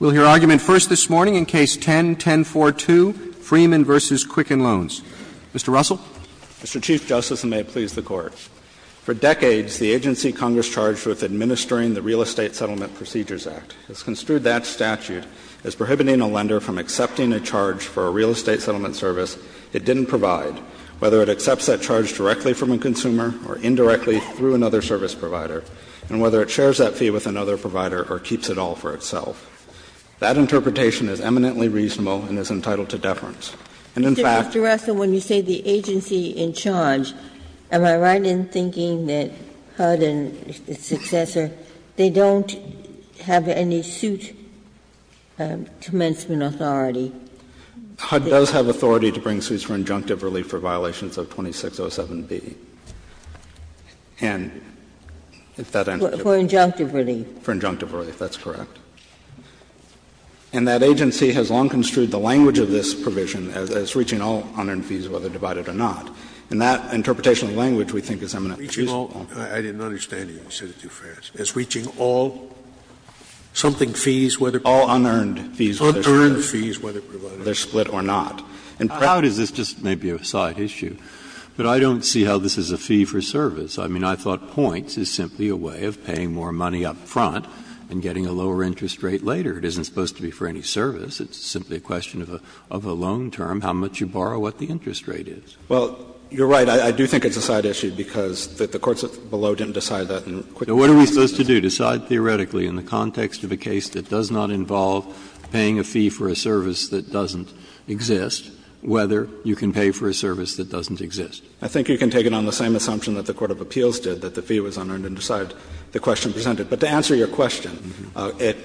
We'll hear argument first this morning in Case 10-1042, Freeman v. Quicken Loans. Mr. Russell. Mr. Chief Justice, and may it please the Court. For decades, the agency Congress charged with administering the Real Estate Settlement Procedures Act has construed that statute as prohibiting a lender from accepting a charge for a real estate settlement service it didn't provide, whether it accepts that charge directly from a consumer or indirectly through another service provider, and whether it shares that fee with another provider or keeps it all for itself. That interpretation is eminently reasonable and is entitled to deference. And in fact the agency in charge, am I right in thinking that HUD and its successor, they don't have any suit commencement authority? HUD does have authority to bring suits for injunctive relief for violations of 2607B, and if that answers your question. For injunctive relief. For injunctive relief, that's correct. And that agency has long construed the language of this provision as reaching all unearned fees whether divided or not. And that interpretation of language we think is eminently reasonable. I didn't understand you. You said it too fast. It's reaching all something fees whether provided? All unearned fees whether they're split or not. And perhaps this is just maybe a side issue, but I don't see how this is a fee for service. I mean, I thought points is simply a way of paying more money up front and getting a lower interest rate later. It isn't supposed to be for any service. It's simply a question of a loan term, how much you borrow, what the interest rate is. Well, you're right. I do think it's a side issue because the courts below didn't decide that in the quick process. Now, what are we supposed to do? Decide theoretically in the context of a case that does not involve paying a fee for a service that doesn't exist whether you can pay for a service that doesn't exist. I think you can take it on the same assumption that the court of appeals did, that the fee was unearned and decided the question presented. But to answer your question,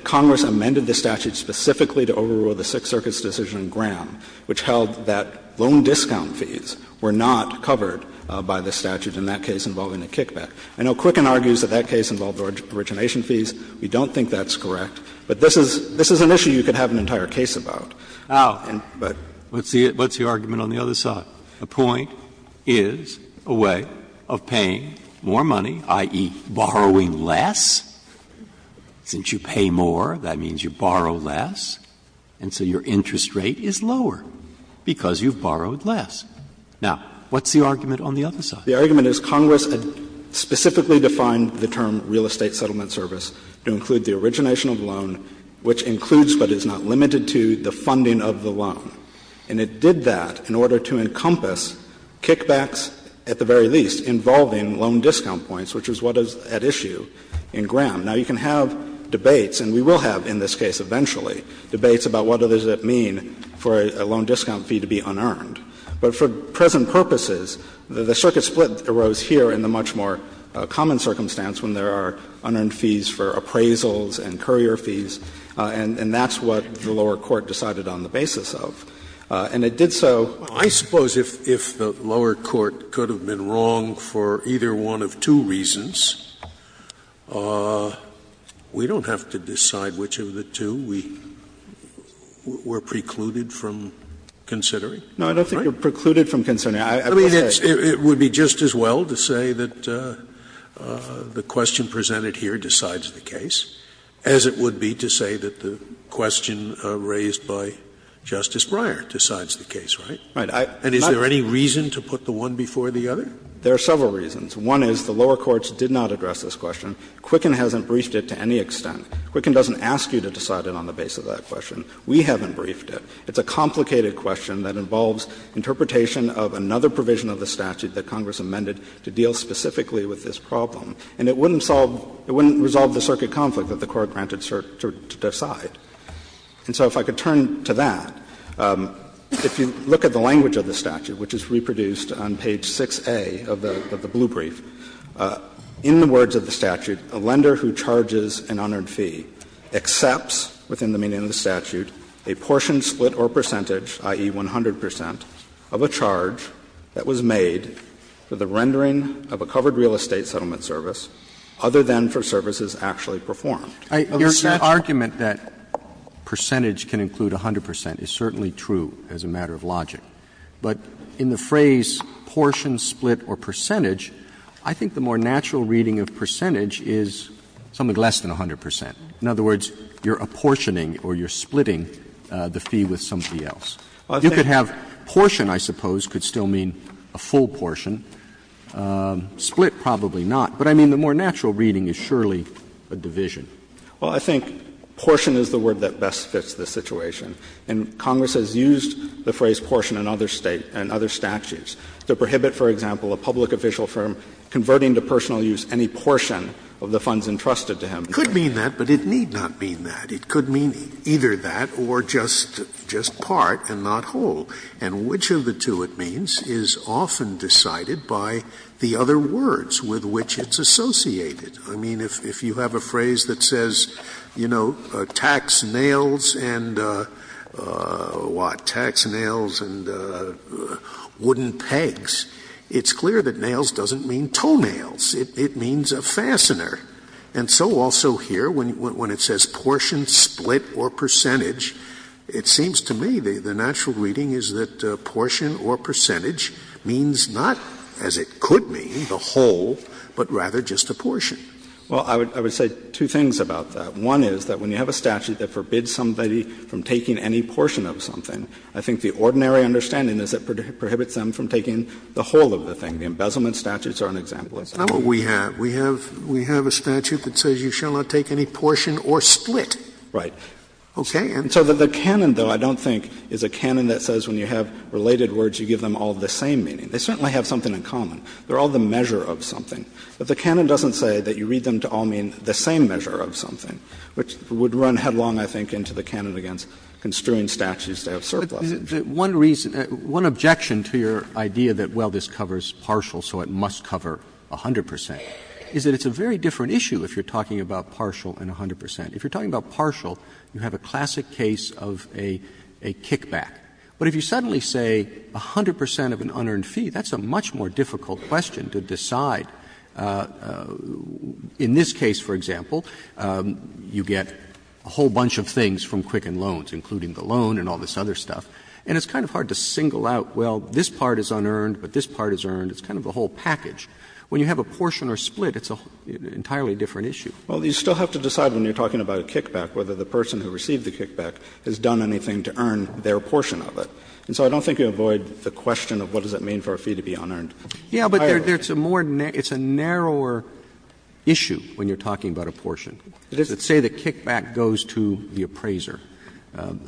Congress amended the statute specifically to overrule the Sixth Circuit's decision in Graham, which held that loan discount fees were not covered by the statute in that case involving a kickback. I know Quicken argues that that case involved origination fees. We don't think that's correct. But this is an issue you could have an entire case about. Now, but what's the argument on the other side? The point is a way of paying more money, i.e., borrowing less. Since you pay more, that means you borrow less, and so your interest rate is lower because you've borrowed less. Now, what's the argument on the other side? The argument is Congress specifically defined the term real estate settlement service to include the origination of the loan, which includes but is not limited to the funding of the loan. And it did that in order to encompass kickbacks, at the very least, involving loan discount points, which is what is at issue in Graham. Now, you can have debates, and we will have in this case eventually, debates about what does it mean for a loan discount fee to be unearned. But for present purposes, the circuit split arose here in the much more common circumstance when there are unearned fees for appraisals and courier fees, and that's what the lower court decided on the basis of. And it did so. Scalia I suppose if the lower court could have been wrong for either one of two reasons, we don't have to decide which of the two we're precluded from considering. Right? Phillips No, I don't think you're precluded from considering. I mean, it would be just as well to say that the question presented here decides the case as it would be to say that the question raised by Justice Breyer decides the case, right? And is there any reason to put the one before the other? Phillips There are several reasons. One is the lower courts did not address this question. Quicken hasn't briefed it to any extent. Quicken doesn't ask you to decide it on the basis of that question. We haven't briefed it. It's a complicated question that involves interpretation of another provision of the statute that Congress amended to deal specifically with this problem. And it wouldn't solve the circuit conflict that the court granted to decide. And so if I could turn to that, if you look at the language of the statute, which is reproduced on page 6A of the blue brief, in the words of the statute, a lender who charges an honored fee accepts, within the meaning of the statute, a portion, split, or percentage, i.e., 100 percent, of a charge that was made for the rendering of a covered real estate settlement service, other than for services actually performed. Roberts, your argument that percentage can include 100 percent is certainly true as a matter of logic. But in the phrase portion, split, or percentage, I think the more natural reading of percentage is something less than 100 percent. In other words, you're apportioning or you're splitting the fee with somebody else. You could have portion, I suppose, could still mean a full portion. Split, probably not. But I mean, the more natural reading is surely a division. Well, I think portion is the word that best fits the situation. And Congress has used the phrase portion in other State and other statutes to prohibit, for example, a public official from converting to personal use any portion of the funds entrusted to him. It could mean that, but it need not mean that. It could mean either that or just part and not whole. And which of the two it means is often decided by the other words with which it's associated. I mean, if you have a phrase that says, you know, tax nails and, what, tax nails and wooden pegs, it's clear that nails doesn't mean toenails. It means a fastener. And so also here, when it says portion, split, or percentage, it seems to me the natural reading is that portion or percentage means not, as it could mean, the whole, but rather just a portion. Well, I would say two things about that. One is that when you have a statute that forbids somebody from taking any portion of something, I think the ordinary understanding is that it prohibits them from taking the whole of the thing. The embezzlement statutes are an example of that. Scalia, we have a statute that says you shall not take any portion or split. Right. Okay. And so the canon, though, I don't think is a canon that says when you have related words, you give them all the same meaning. They certainly have something in common. They're all the measure of something. But the canon doesn't say that you read them to all mean the same measure of something, which would run headlong, I think, into the canon against construing statutes that have surplus. One reason — one objection to your idea that, well, this covers partial, so it must cover 100 percent, is that it's a very different issue if you're talking about partial and 100 percent. If you're talking about partial, you have a classic case of a kickback. But if you suddenly say 100 percent of an unearned fee, that's a much more difficult question to decide. In this case, for example, you get a whole bunch of things from Quicken Loans, including the loan and all this other stuff, and it's kind of hard to single out, well, this part is unearned, but this part is earned. It's kind of a whole package. When you have a portion or split, it's an entirely different issue. Well, you still have to decide when you're talking about a kickback whether the person who received the kickback has done anything to earn their portion of it. And so I don't think you avoid the question of what does it mean for a fee to be unearned. Roberts Yeah, but there's a more net – it's a narrower issue when you're talking about a portion. If, say, the kickback goes to the appraiser,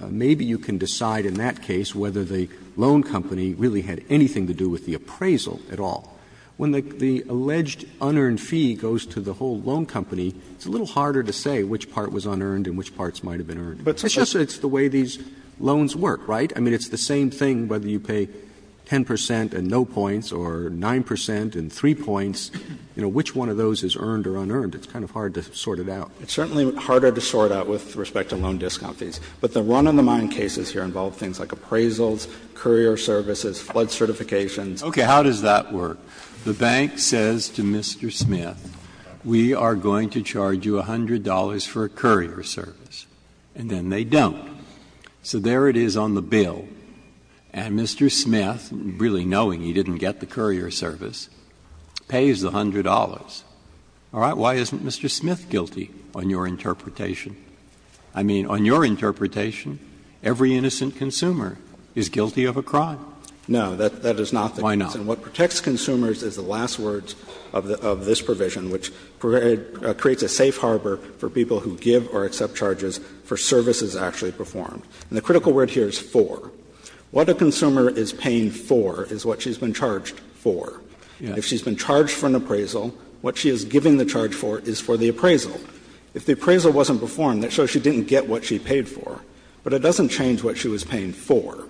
maybe you can decide in that case whether the loan company really had anything to do with the appraisal at all. When the alleged unearned fee goes to the whole loan company, it's a little harder to say which part was unearned and which parts might have been earned. It's just that it's the way these loans work, right? I mean, it's the same thing whether you pay 10 percent and no points or 9 percent and 3 points. You know, which one of those is earned or unearned? It's kind of hard to sort it out. It's certainly harder to sort out with respect to loan discount fees. But the run-of-the-mind cases here involve things like appraisals, courier services, flood certifications. Okay, how does that work? The bank says to Mr. Smith, we are going to charge you $100 for a courier service. And then they don't. So there it is on the bill. And Mr. Smith, really knowing he didn't get the courier service, pays the $100. All right, why isn't Mr. Smith guilty on your interpretation? I mean, on your interpretation, every innocent consumer is guilty of a crime. No, that is not the case. Why not? What protects consumers is the last words of this provision, which creates a safe And the critical word here is for. What a consumer is paying for is what she has been charged for. If she has been charged for an appraisal, what she is giving the charge for is for the appraisal. If the appraisal wasn't performed, that shows she didn't get what she paid for. But it doesn't change what she was paying for.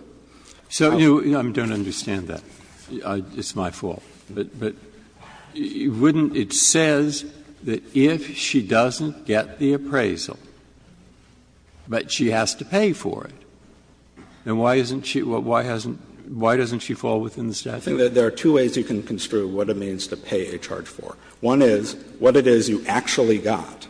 So you don't understand that. It's my fault. But wouldn't it says that if she doesn't get the appraisal, but she has to pay for it, then why isn't she why hasn't why doesn't she fall within the statute? I think there are two ways you can construe what it means to pay a charge for. One is what it is you actually got.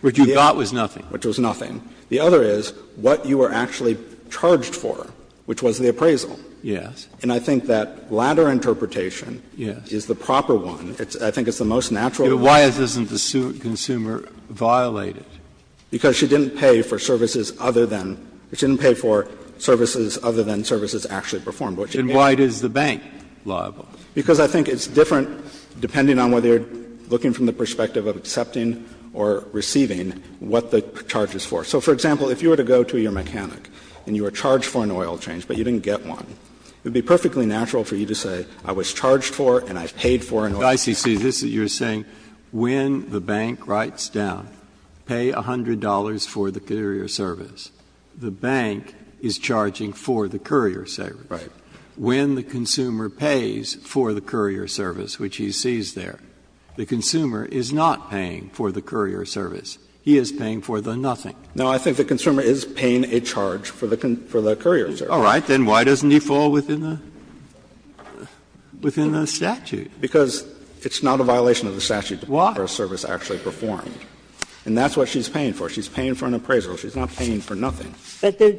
What you got was nothing. Which was nothing. The other is what you were actually charged for, which was the appraisal. Yes. And I think that latter interpretation is the proper one. I think it's the most natural one. But why isn't the consumer violated? Because she didn't pay for services other than, she didn't pay for services other than services actually performed. And why is the bank liable? Because I think it's different depending on whether you are looking from the perspective of accepting or receiving what the charge is for. So, for example, if you were to go to your mechanic and you were charged for an oil change, but you didn't get one, it would be perfectly natural for you to say, I was charged for and I paid for an oil change. Breyer, this is what you are saying, when the bank writes down, pay $100 for the courier service, the bank is charging for the courier service. Right. When the consumer pays for the courier service, which he sees there, the consumer is not paying for the courier service. He is paying for the nothing. No, I think the consumer is paying a charge for the courier service. All right, then why doesn't he fall within the statute? Because it's not a violation of the statute to pay for a service actually performed. And that's what she's paying for. She's paying for an appraisal. She's not paying for nothing. But the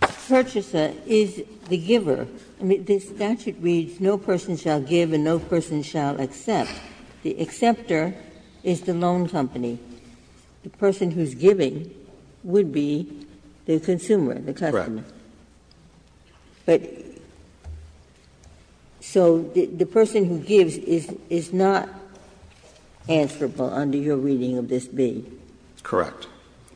purchaser is the giver. I mean, the statute reads, no person shall give and no person shall accept. The acceptor is the loan company. The person who's giving would be the consumer, the customer. Correct. But so the person who gives is not answerable under your reading of this B. Correct.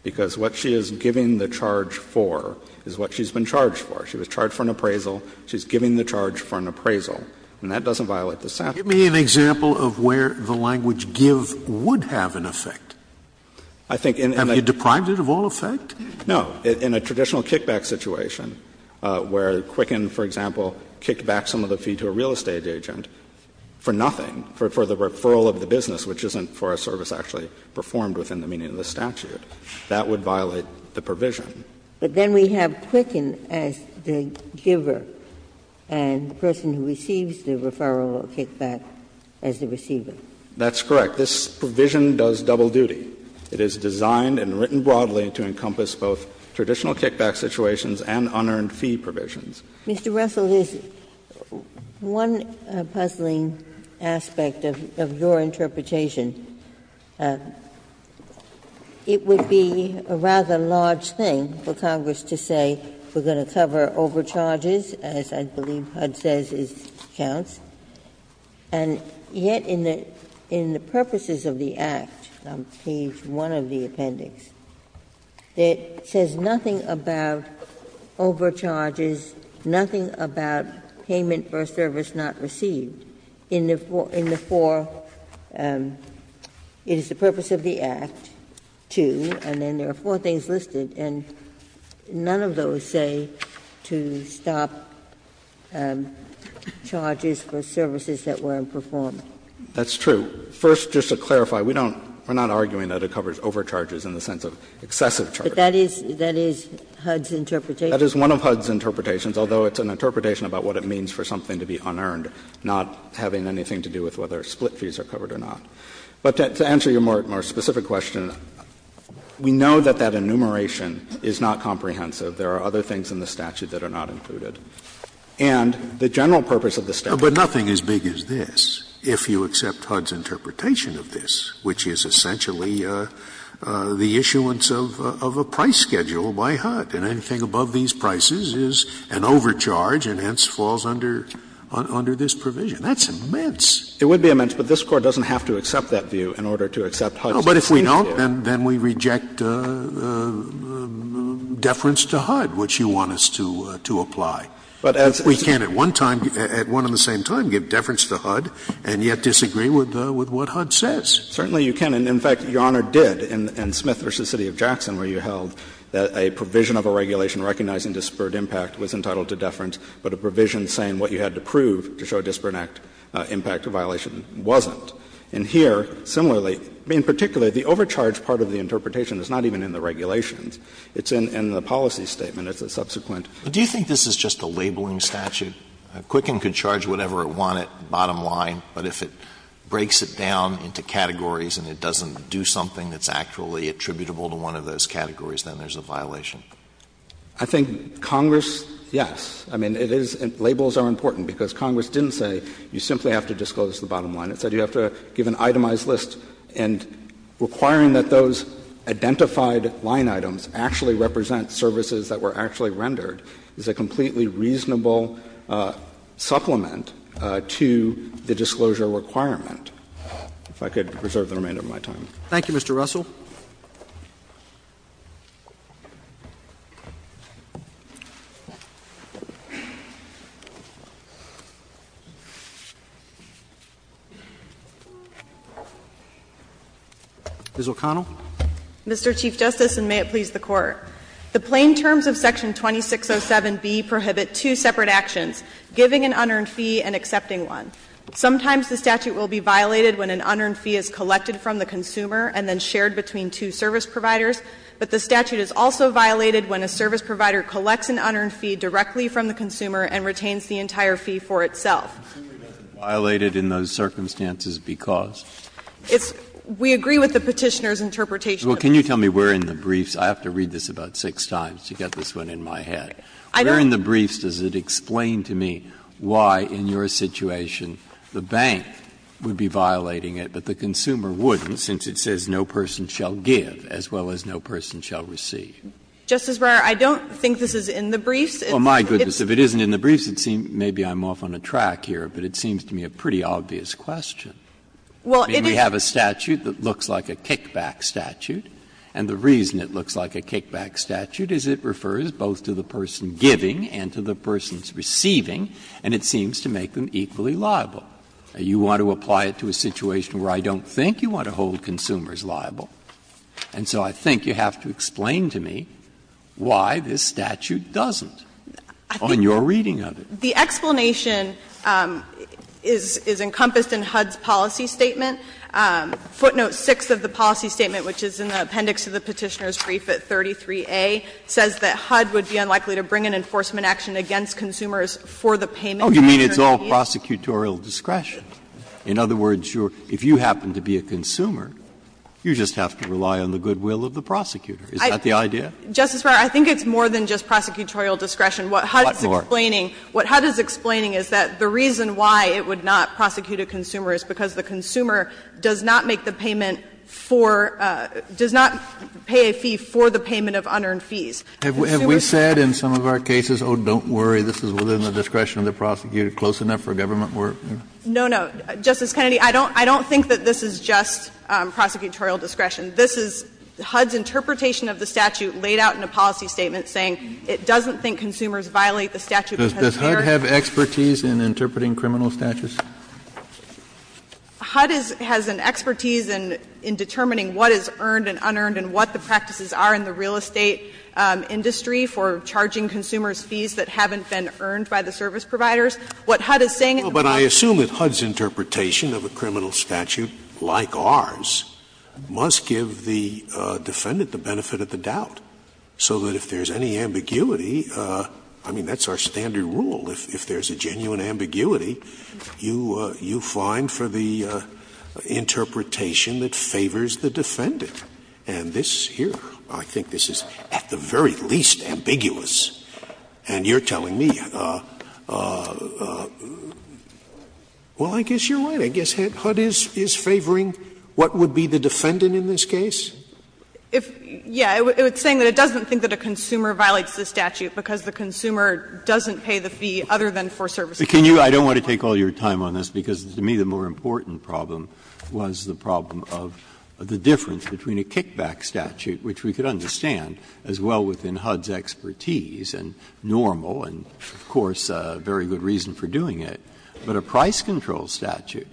Because what she is giving the charge for is what she's been charged for. She was charged for an appraisal. She's giving the charge for an appraisal. And that doesn't violate the statute. Scalia, give me an example of where the language give would have an effect. I think in a traditional kickback situation where Quicken, for example, kicked back some of the fee to a real estate agent for nothing, for the referral of the business, which isn't for a service actually performed within the meaning of the statute, that would violate the provision. But then we have Quicken as the giver and the person who receives the referral will kick back as the receiver. That's correct. This provision does double duty. It is designed and written broadly to encompass both traditional kickback situations and unearned fee provisions. Mr. Russell, there's one puzzling aspect of your interpretation. It would be a rather large thing for Congress to say we're going to cover overcharges, as I believe HUD says it counts. And yet in the purposes of the Act, on page 1 of the appendix, it says nothing about overcharges, nothing about payment for a service not received. In the four, it is the purpose of the Act, 2, and then there are four things listed. And none of those say to stop charges for services that weren't performed. That's true. First, just to clarify, we don't we're not arguing that it covers overcharges in the sense of excessive charges. But that is HUD's interpretation. It's HUD's interpretation about what it means for something to be unearned, not having anything to do with whether split fees are covered or not. But to answer your more specific question, we know that that enumeration is not comprehensive. There are other things in the statute that are not included. And the general purpose of the statute is to cover overcharges. Scalia. But nothing as big as this, if you accept HUD's interpretation of this, which is essentially the issuance of a price schedule by HUD, and anything above these prices is an overcharge and hence falls under this provision. That's immense. It would be immense, but this Court doesn't have to accept that view in order to accept HUD's interpretation. But if we don't, then we reject deference to HUD, which you want us to apply. But as we can't at one time, at one and the same time, give deference to HUD and yet disagree with what HUD says. Certainly you can. And in fact, Your Honor did in Smith v. City of Jackson, where you held that a provision of a regulation recognizing disparate impact was entitled to deference, but a provision saying what you had to prove to show disparate impact or violation wasn't. And here, similarly, in particular, the overcharge part of the interpretation is not even in the regulations. It's in the policy statement. It's a subsequent. Alito. Do you think this is just a labeling statute? Quicken could charge whatever it wanted, bottom line, but if it breaks it down into categories and it doesn't do something that's actually attributable to one of those categories, then there's a violation. I think Congress, yes. I mean, it is — labels are important, because Congress didn't say you simply have to disclose the bottom line. It said you have to give an itemized list. And requiring that those identified line items actually represent services that were actually rendered is a completely reasonable supplement to the disclosure requirement. If I could reserve the remainder of my time. Thank you, Mr. Russell. Ms. O'Connell. Mr. Chief Justice, and may it please the Court. The plain terms of Section 2607b prohibit two separate actions, giving an unearned fee and accepting one. Sometimes the statute will be violated when an unearned fee is collected from the consumer between two service providers, but the statute is also violated when a service provider collects an unearned fee directly from the consumer and retains the entire fee for itself. Breyer, violated in those circumstances because? It's — we agree with the Petitioner's interpretation. Well, can you tell me where in the briefs — I have to read this about six times to get this one in my head. I don't— Where in the briefs does it explain to me why, in your situation, the bank would be violating it, but the consumer wouldn't, since it says no person shall give as well as no person shall receive? Justice Breyer, I don't think this is in the briefs. It's— Well, my goodness, if it isn't in the briefs, it seems — maybe I'm off on a track here, but it seems to me a pretty obvious question. Well, it is— I mean, we have a statute that looks like a kickback statute, and the reason it looks like a kickback statute is it refers both to the person giving and to the person's receiving, and it seems to make them equally liable. You want to apply it to a situation where I don't think you want to hold consumers liable, and so I think you have to explain to me why this statute doesn't on your reading of it. I think the explanation is encompassed in HUD's policy statement. Footnote 6 of the policy statement, which is in the appendix of the Petitioner's brief at 33A, says that HUD would be unlikely to bring an enforcement action against consumers for the payment of external fees. Breyer, you mean it's all prosecutorial discretion? In other words, if you happen to be a consumer, you just have to rely on the good will of the prosecutor. Is that the idea? Justice Breyer, I think it's more than just prosecutorial discretion. What HUD is explaining is that the reason why it would not prosecute a consumer is because the consumer does not make the payment for — does not pay a fee for the payment of unearned fees. Have we said in some of our cases, oh, don't worry, this is within the discretion of the prosecutor, close enough for government work? No, no. Justice Kennedy, I don't think that this is just prosecutorial discretion. This is HUD's interpretation of the statute laid out in a policy statement saying it doesn't think consumers violate the statute because they are — Does HUD have expertise in interpreting criminal statutes? HUD has an expertise in determining what is earned and unearned and what the practices are in the real estate industry for charging consumers fees that haven't been earned by the service providers. What HUD is saying in the policy statement is that the statute is not a criminal statute. Scalia's interpretation of a criminal statute, like ours, must give the defendant the benefit of the doubt, so that if there is any ambiguity, I mean, that's our standard rule, if there is a genuine ambiguity, you find for the interpretation that favors the defendant. And this here, I think this is at the very least ambiguous. And you're telling me, well, I guess you're right. I guess HUD is favoring what would be the defendant in this case? If, yeah, it's saying that it doesn't think that a consumer violates the statute because the consumer doesn't pay the fee other than for services. But can you — I don't want to take all your time on this, because to me the more important problem was the problem of the difference between a kickback statute, which we could understand, as well within HUD's expertise, and normal, and of course a very good reason for doing it, but a price control statute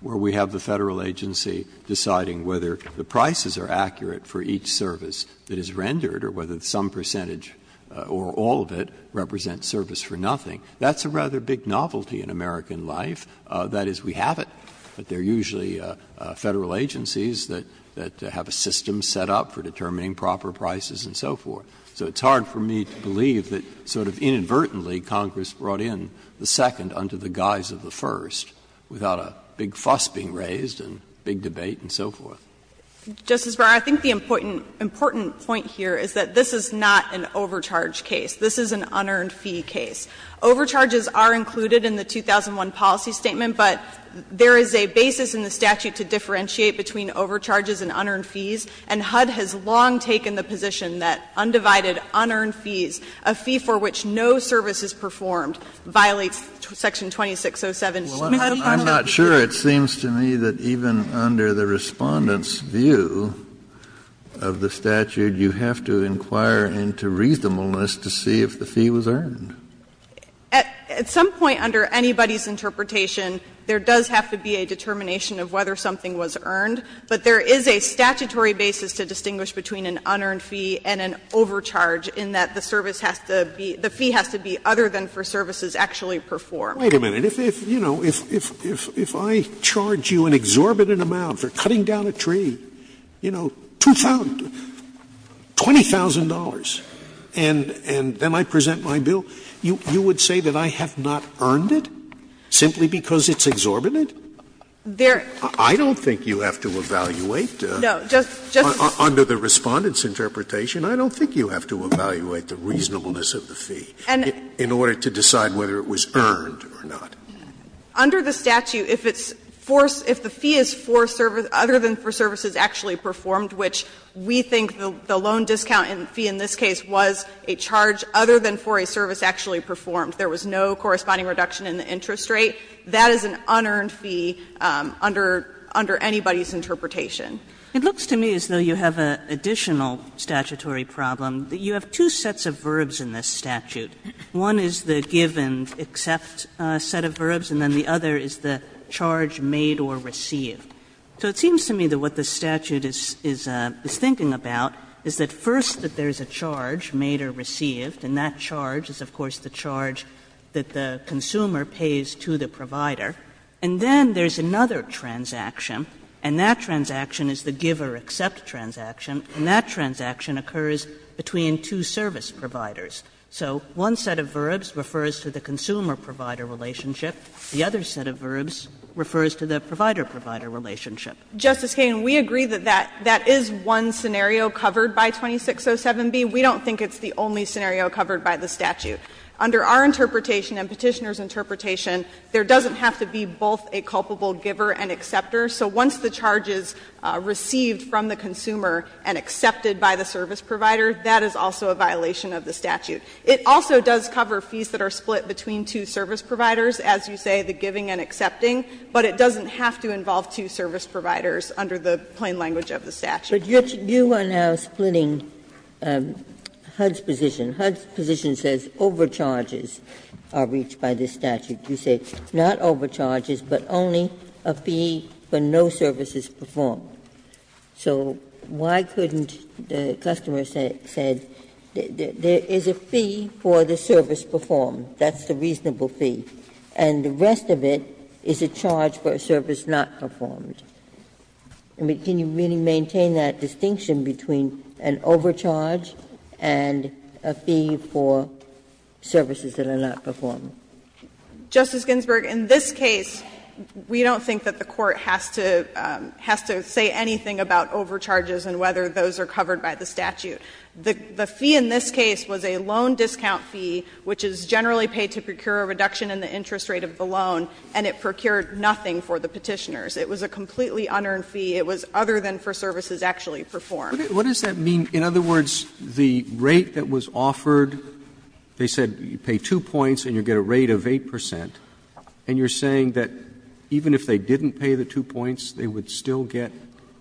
where we have the Federal agency deciding whether the prices are accurate for each service that is rendered or whether some percentage or all of it represents service for nothing. That's a rather big novelty in American life. That is, we have it, but there are usually Federal agencies that have a system set up for determining proper prices and so forth. So it's hard for me to believe that sort of inadvertently Congress brought in the second under the guise of the first without a big fuss being raised and big debate and so forth. Justice Breyer, I think the important point here is that this is not an overcharge case. This is an unearned fee case. Overcharges are included in the 2001 policy statement, but there is a basis in the position that undivided, unearned fees, a fee for which no service is performed, violates section 2607. Kennedy, I'm not sure it seems to me that even under the Respondent's view of the statute, you have to inquire into reasonableness to see if the fee was earned. At some point under anybody's interpretation, there does have to be a determination of whether something was earned, but there is a statutory basis to distinguish between an unearned fee and an overcharge in that the service has to be the fee has to be other than for services actually performed. Wait a minute. If I charge you an exorbitant amount for cutting down a tree, you know, $20,000, and then I present my bill, you would say that I have not earned it simply because it's exorbitant? I don't think you have to evaluate. Under the Respondent's interpretation, I don't think you have to evaluate the reasonableness of the fee in order to decide whether it was earned or not. Under the statute, if it's for the fee is for service, other than for services actually performed, which we think the loan discount fee in this case was a charge other than for a service actually performed, there was no corresponding reduction in the interest rate, that is an unearned fee under anybody's interpretation. It looks to me as though you have an additional statutory problem. You have two sets of verbs in this statute. One is the give and accept set of verbs, and then the other is the charge made or received. So it seems to me that what the statute is thinking about is that, first, that there is a charge, made or received, and that charge is, of course, the charge that the consumer pays to the provider. And then there is another transaction, and that transaction is the give or accept transaction, and that transaction occurs between two service providers. So one set of verbs refers to the consumer-provider relationship. The other set of verbs refers to the provider-provider relationship. Justice Kagan, we agree that that is one scenario covered by 2607b. We don't think it's the only scenario covered by the statute. Under our interpretation and Petitioner's interpretation, there doesn't have to be both a culpable giver and acceptor. So once the charge is received from the consumer and accepted by the service provider, that is also a violation of the statute. It also does cover fees that are split between two service providers, as you say, the giving and accepting, but it doesn't have to involve two service providers under the plain language of the statute. Ginsburg, you are now splitting HUD's position. HUD's position says overcharges are reached by this statute. You say, not overcharges, but only a fee for no services performed. So why couldn't the customer say, there is a fee for the service performed? That's the reasonable fee. And the rest of it is a charge for a service not performed. Can you really maintain that distinction between an overcharge and a fee for services that are not performed? Justice Ginsburg, in this case, we don't think that the Court has to say anything about overcharges and whether those are covered by the statute. The fee in this case was a loan discount fee, which is generally paid to procure a reduction in the interest rate of the loan, and it procured nothing for the Petitioners. It was a completely unearned fee. It was other than for services actually performed. Roberts What does that mean? In other words, the rate that was offered, they said you pay two points and you get a rate of 8 percent, and you are saying that even if they didn't pay the two points, they would still get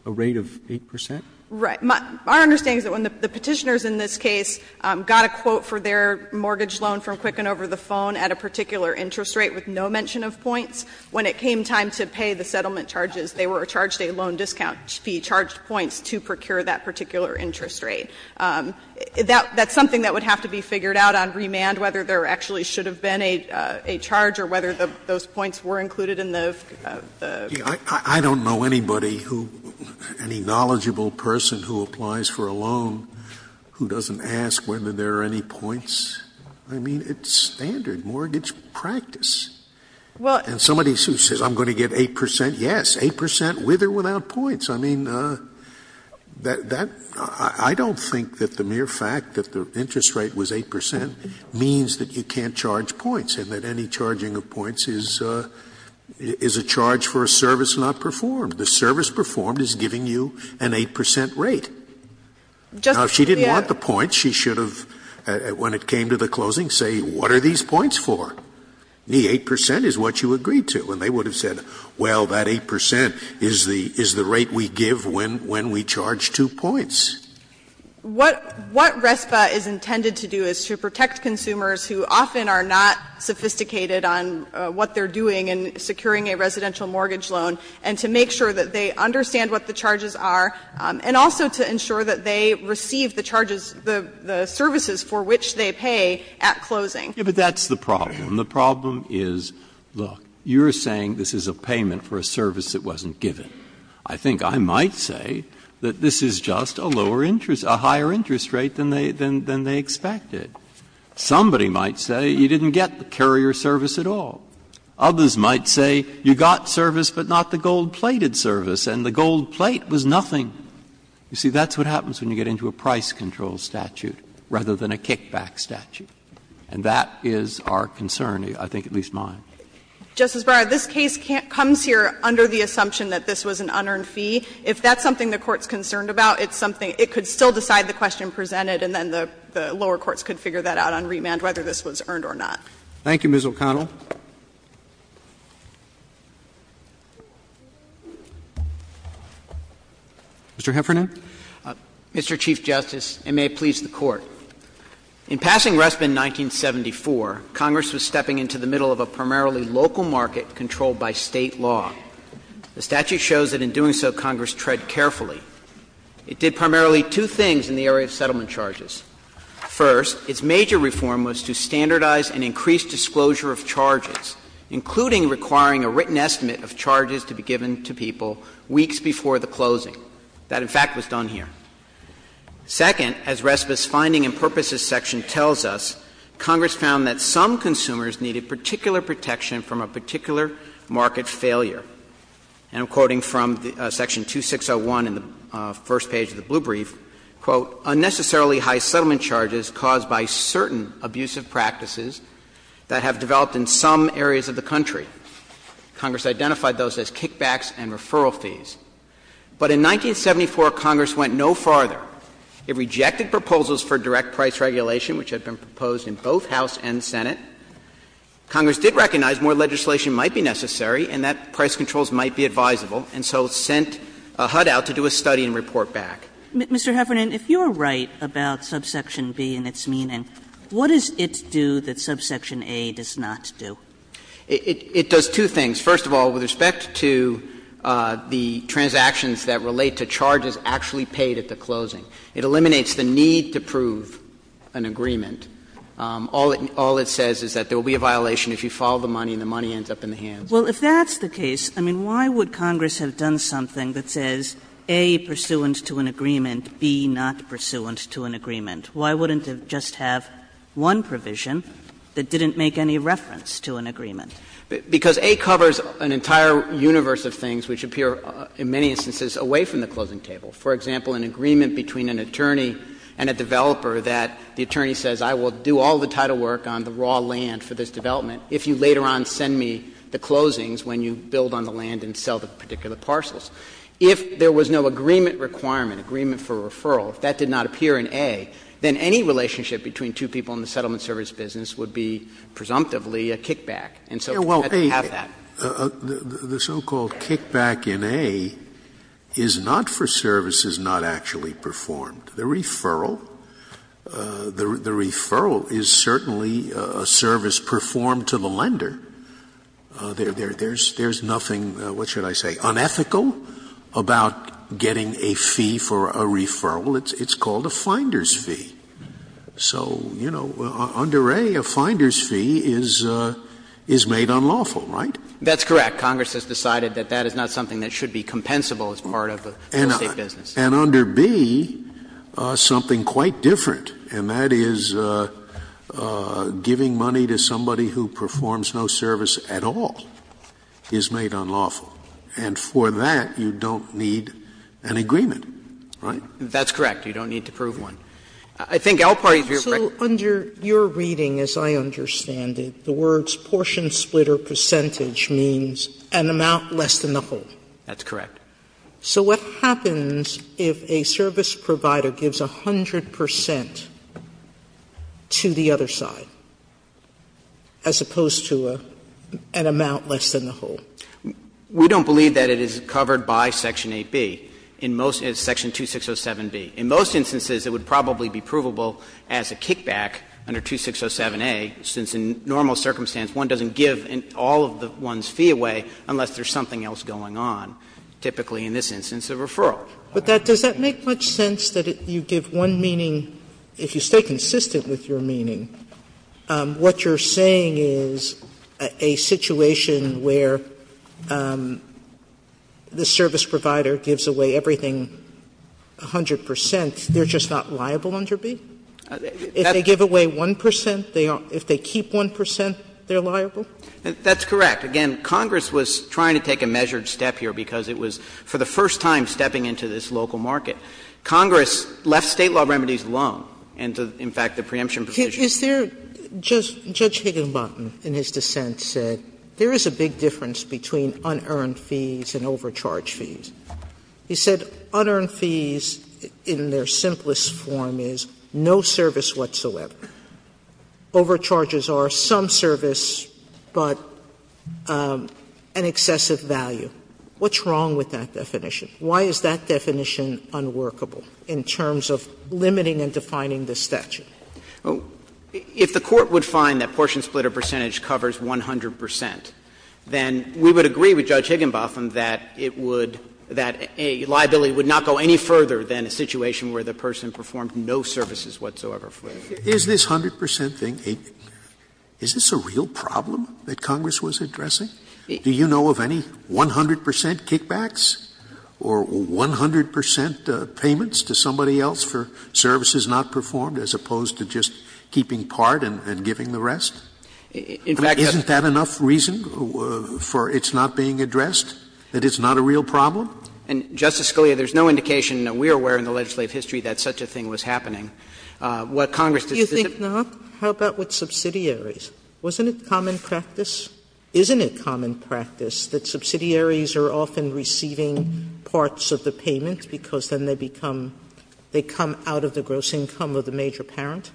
a rate of 8 percent? Right. My understanding is that when the Petitioners in this case got a quote for their particular interest rate with no mention of points, when it came time to pay the settlement charges, they were charged a loan discount fee, charged points to procure that particular interest rate. That's something that would have to be figured out on remand, whether there actually should have been a charge or whether those points were included in the fee. Scalia I don't know anybody who, any knowledgeable person who applies for a loan who doesn't ask whether there are any points. I mean, it's standard mortgage practice. And somebody who says I'm going to get 8 percent, yes, 8 percent with or without points. I mean, that — I don't think that the mere fact that the interest rate was 8 percent means that you can't charge points and that any charging of points is a charge for a service not performed. The service performed is giving you an 8 percent rate. Now, if she didn't want the points, she should have, when it came time to pay the settlement charges, came to the closing, say, what are these points for? The 8 percent is what you agreed to. And they would have said, well, that 8 percent is the rate we give when we charge two points. O'Connor What RESPA is intended to do is to protect consumers who often are not sophisticated on what they're doing in securing a residential mortgage loan, and to make sure that they understand what the charges are, and also to ensure that they receive the charges for the services for which they pay at closing. Breyer Yes, but that's the problem. The problem is, look, you're saying this is a payment for a service that wasn't given. I think I might say that this is just a lower interest — a higher interest rate than they expected. Somebody might say you didn't get the carrier service at all. Others might say you got service, but not the gold-plated service, and the gold plate was nothing. You see, that's what happens when you get into a price control statute rather than a kickback statute. And that is our concern, I think at least mine. O'Connor Justice Breyer, this case comes here under the assumption that this was an unearned fee. If that's something the Court's concerned about, it's something — it could still decide the question presented, and then the lower courts could figure that out on remand whether this was earned or not. Roberts Thank you, Ms. O'Connor. Mr. Heffernan. Mr. Chief Justice, and may it please the Court. In passing Resp in 1974, Congress was stepping into the middle of a primarily local market controlled by State law. The statute shows that in doing so, Congress tread carefully. It did primarily two things in the area of settlement charges. First, its major reform was to standardize and increase disclosure of charges, including requiring a written estimate of charges to be given to people weeks before the closing. That, in fact, was done here. Second, as Resp's finding and purposes section tells us, Congress found that some consumers needed particular protection from a particular market failure. And I'm quoting from section 2601 in the first page of the blue brief, quote, unnecessarily high settlement charges caused by certain abusive practices that have developed in some areas of the country. Congress identified those as kickbacks and referral fees. But in 1974, Congress went no farther. It rejected proposals for direct price regulation, which had been proposed in both House and Senate. Congress did recognize more legislation might be necessary and that price controls might be advisable, and so sent HUD out to do a study and report back. Kagan. Mr. Heffernan, if you are right about subsection B and its meaning, what does it do that subsection A does not do? Heffernan, It does two things. First of all, with respect to the transactions that relate to charges actually paid at the closing, it eliminates the need to prove an agreement. All it says is that there will be a violation if you file the money and the money ends up in the hands. Kagan. Well, if that's the case, I mean, why would Congress have done something that says A, pursuant to an agreement, B, not pursuant to an agreement? Why wouldn't it just have one provision that didn't make any reference to an agreement? Heffernan, Because A covers an entire universe of things which appear in many instances away from the closing table. For example, an agreement between an attorney and a developer that the attorney says I will do all the title work on the raw land for this development if you later on send me the closings when you build on the land and sell the particular parcels. If there was no agreement requirement, agreement for referral, if that did not appear in A, then any relationship between two people in the settlement service business would be presumptively a kickback. And so we have to have that. Scalia. Well, the so-called kickback in A is not for services not actually performed. There's nothing, what should I say, unethical about getting a fee for a referral. It's called a finder's fee. So, you know, under A, a finder's fee is made unlawful, right? That's correct. Congress has decided that that is not something that should be compensable as part of the real estate business. And under B, something quite different, and that is giving money to somebody who performs no service at all is made unlawful. And for that, you don't need an agreement, right? That's correct. You don't need to prove one. I think all parties view it correctly. So under your reading, as I understand it, the words portion, splitter, percentage means an amount less than the whole. That's correct. So what happens if a service provider gives 100 percent to the other side? As opposed to an amount less than the whole. We don't believe that it is covered by Section 8B. In most of Section 2607B. In most instances, it would probably be provable as a kickback under 2607A, since in normal circumstance, one doesn't give all of the one's fee away unless there's something else going on, typically in this instance a referral. But does that make much sense that you give one meaning, if you stay consistent with your meaning? What you're saying is a situation where the service provider gives away everything 100 percent, they're just not liable under B? If they give away 1 percent, if they keep 1 percent, they're liable? That's correct. Again, Congress was trying to take a measured step here because it was, for the first time, stepping into this local market. Congress left State law remedies alone, and, in fact, the preemption provision Sotomayor, Judge Higginbottom, in his dissent, said there is a big difference between unearned fees and overcharge fees. He said unearned fees, in their simplest form, is no service whatsoever. Overcharges are some service, but an excessive value. What's wrong with that definition? Why is that definition unworkable in terms of limiting and defining the statute? If the Court would find that portion split of percentage covers 100 percent, then we would agree with Judge Higginbottom that it would – that a liability would not go any further than a situation where the person performed no services whatsoever for them. Scalia is this 100 percent thing a – is this a real problem that Congress was addressing? Do you know of any 100 percent kickbacks? Or 100 percent payments to somebody else for services not performed, as opposed to just keeping part and giving the rest? In fact, isn't that enough reason for it's not being addressed, that it's not a real problem? And, Justice Scalia, there is no indication that we are aware in the legislative history that such a thing was happening. What Congress does is that it's not. Sotomayor, do you think not? How about with subsidiaries? Wasn't it common practice? Isn't it common practice that subsidiaries are often receiving parts of the payment because then they become – they come out of the gross income of the major parent?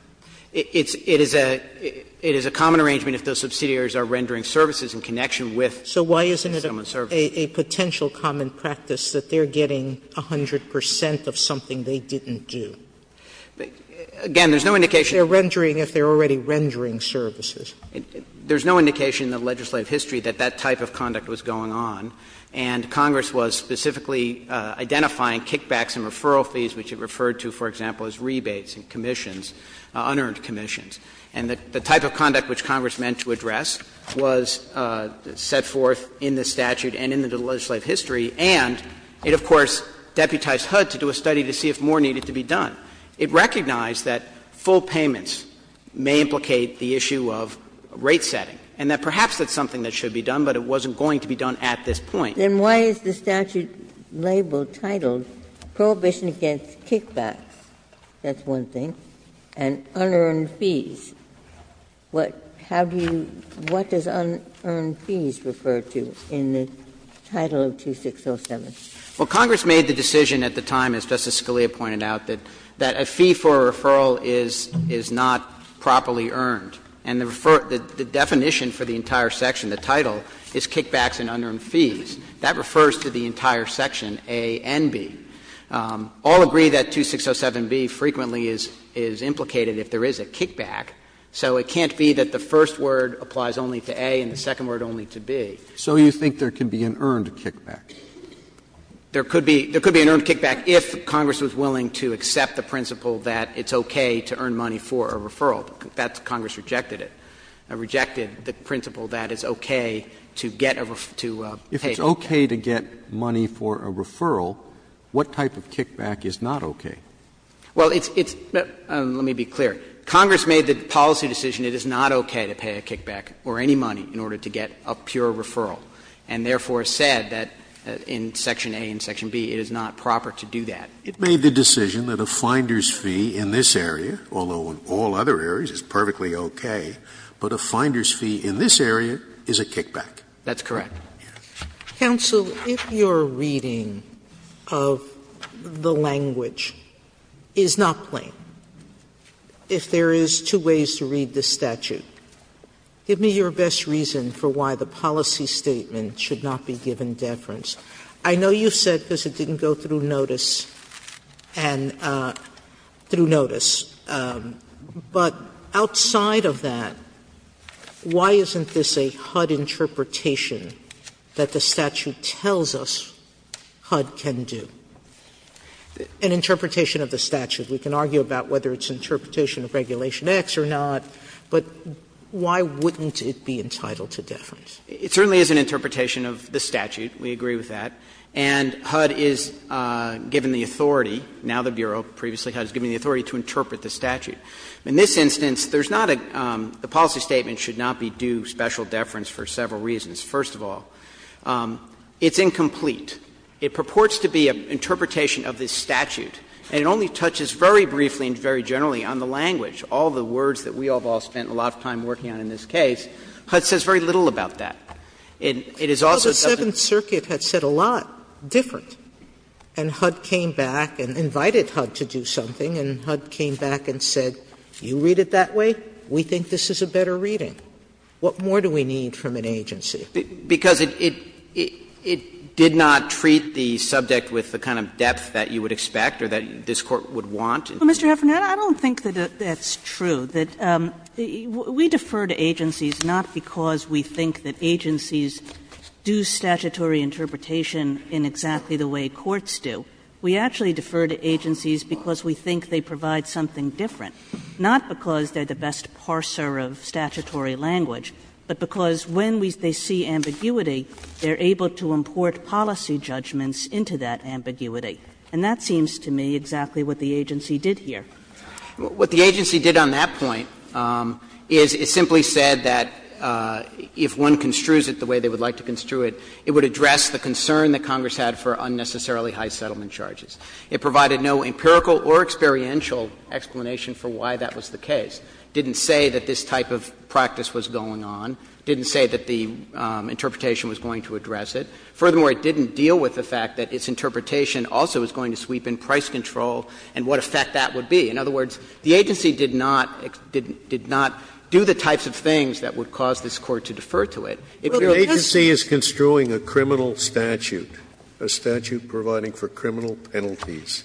It's – it is a – it is a common arrangement if those subsidiaries are rendering services in connection with someone's services. So why isn't it a potential common practice that they're getting 100 percent of something they didn't do? Again, there's no indication that they're rendering if they're already rendering services. There's no indication in the legislative history that that type of conduct was going on, and Congress was specifically identifying kickbacks and referral fees, which it referred to, for example, as rebates and commissions, unearned commissions. And the type of conduct which Congress meant to address was set forth in the statute and in the legislative history, and it, of course, deputized HUD to do a study to see if more needed to be done. It recognized that full payments may implicate the issue of rate setting, and that perhaps that's something that should be done, but it wasn't going to be done at this point. Then why is the statute labeled, titled, Prohibition Against Kickbacks, that's one thing, and Unearned Fees? What have you – what does Unearned Fees refer to in the title of 2607? Well, Congress made the decision at the time, as Justice Scalia pointed out, that a fee for a referral is not properly earned. And the definition for the entire section, the title, is Kickbacks and Unearned Fees. That refers to the entire section, A and B. All agree that 2607B frequently is implicated if there is a kickback, so it can't be that the first word applies only to A and the second word only to B. So you think there can be an earned kickback? There could be an earned kickback if Congress was willing to accept the principle that it's okay to earn money for a referral. That's why Congress rejected it, rejected the principle that it's okay to get a – to pay for a kickback. If it's okay to get money for a referral, what type of kickback is not okay? Well, it's – let me be clear. Congress made the policy decision it is not okay to pay a kickback or any money in order to get a pure referral, and therefore said that in section A and section B, it is not proper to do that. It made the decision that a finder's fee in this area, although in all other areas, is perfectly okay, but a finder's fee in this area is a kickback. That's correct. Counsel, if your reading of the language is not plain, if there is two ways to read this statute, give me your best reason for why the policy statement should not be given deference. I know you said because it didn't go through notice and – through notice, but outside of that, why isn't this a HUD interpretation that the statute tells us HUD can do? An interpretation of the statute. We can argue about whether it's an interpretation of Regulation X or not. But why wouldn't it be entitled to deference? It certainly is an interpretation of the statute. We agree with that. And HUD is given the authority, now the Bureau, previously HUD, is given the authority to interpret the statute. In this instance, there's not a – the policy statement should not be due special deference for several reasons. First of all, it's incomplete. It purports to be an interpretation of this statute, and it only touches very briefly and very generally on the language, all the words that we have all spent a lot of time working on in this case. HUD says very little about that. And it is also doesn't – Sotomayor, the Seventh Circuit had said a lot different, and HUD came back and invited HUD to do something, and HUD came back and said, you read it that way, we think this is a better reading. What more do we need from an agency? Because it – it did not treat the subject with the kind of depth that you would expect or that this Court would want. Well, Mr. Heffernan, I don't think that that's true, that – we defer to agencies not because we think that agencies do statutory interpretation in exactly the way courts do. We actually defer to agencies because we think they provide something different, not because they're the best parser of statutory language, but because when we – they see ambiguity, they're able to import policy judgments into that ambiguity. And that seems to me exactly what the agency did here. What the agency did on that point is it simply said that if one construes it the way they would like to construe it, it would address the concern that Congress had for unnecessarily high settlement charges. It provided no empirical or experiential explanation for why that was the case. It didn't say that this type of practice was going on. It didn't say that the interpretation was going to address it. Furthermore, it didn't deal with the fact that its interpretation also is going to sweep in price control and what effect that would be. In other words, the agency did not – did not do the types of things that would cause this Court to defer to it. If there was a case that would address it, it would address it. Scalia, if the agency is construing a criminal statute, a statute providing for criminal penalties,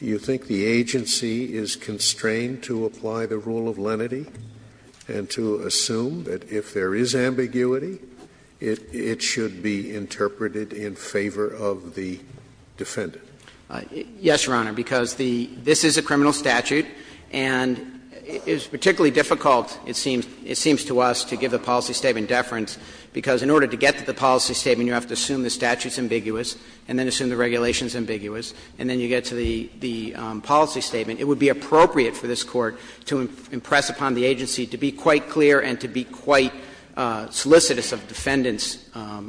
you think the agency is constrained to apply the rule of lenity interpreted in favor of the defendant? Yes, Your Honor, because the – this is a criminal statute, and it is particularly difficult, it seems to us, to give the policy statement deference, because in order to get to the policy statement, you have to assume the statute is ambiguous and then assume the regulation is ambiguous, and then you get to the policy statement. It would be appropriate for this Court to impress upon the agency to be quite clear and to be quite solicitous of defendants'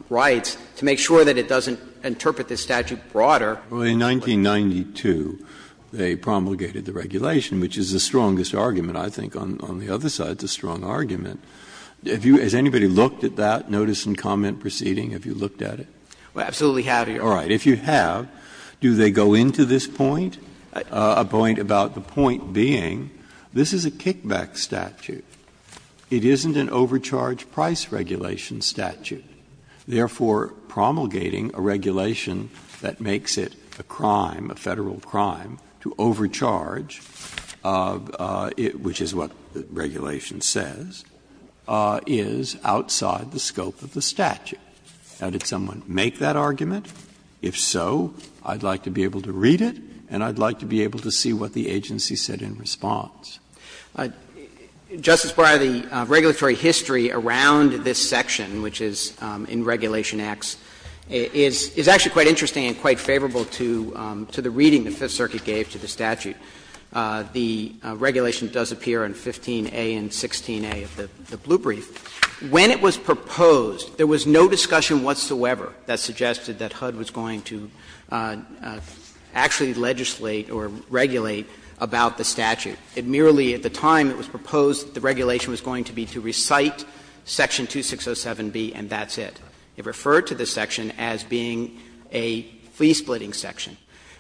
rights to make sure that it doesn't interpret this statute broader. Breyer, in 1992, they promulgated the regulation, which is the strongest argument, I think, on the other side, it's a strong argument. Has anybody looked at that notice and comment proceeding? Have you looked at it? I absolutely have, Your Honor. All right. If you have, do they go into this point? A point about the point being this is a kickback statute. It isn't an overcharge price regulation statute. Therefore, promulgating a regulation that makes it a crime, a Federal crime, to overcharge, which is what regulation says, is outside the scope of the statute. Now, did someone make that argument? If so, I'd like to be able to read it, and I'd like to be able to see what the agency said in response. Justice Breyer, the regulatory history around this section, which is in Regulation X, is actually quite interesting and quite favorable to the reading the Fifth Circuit gave to the statute. The regulation does appear in 15a and 16a of the blue brief. When it was proposed, there was no discussion whatsoever that suggested that HUD was going to actually legislate or regulate about the statute. It merely, at the time it was proposed, the regulation was going to be to recite section 2607b and that's it. It referred to this section as being a fee-splitting section.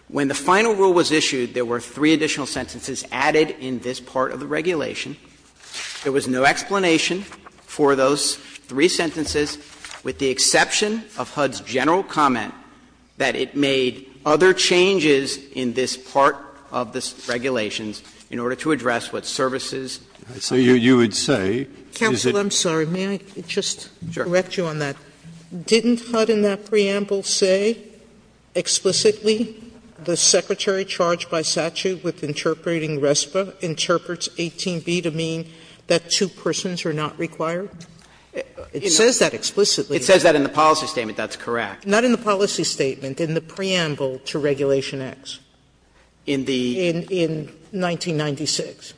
When the final rule was issued, there were three additional sentences added in this part of the regulation. There was no explanation for those three sentences, with the exception of HUD's general comment that it made other changes in this part of the regulations in order to address what services. Breyer, you would say? Counsel, I'm sorry. May I just correct you on that? Didn't HUD in that preamble say explicitly the secretary charged by statute with interpreting RESPA interprets 18b to mean that two persons are not required? It says that explicitly. It says that in the policy statement, that's correct. Not in the policy statement, in the preamble to Regulation X. In the? In 1996.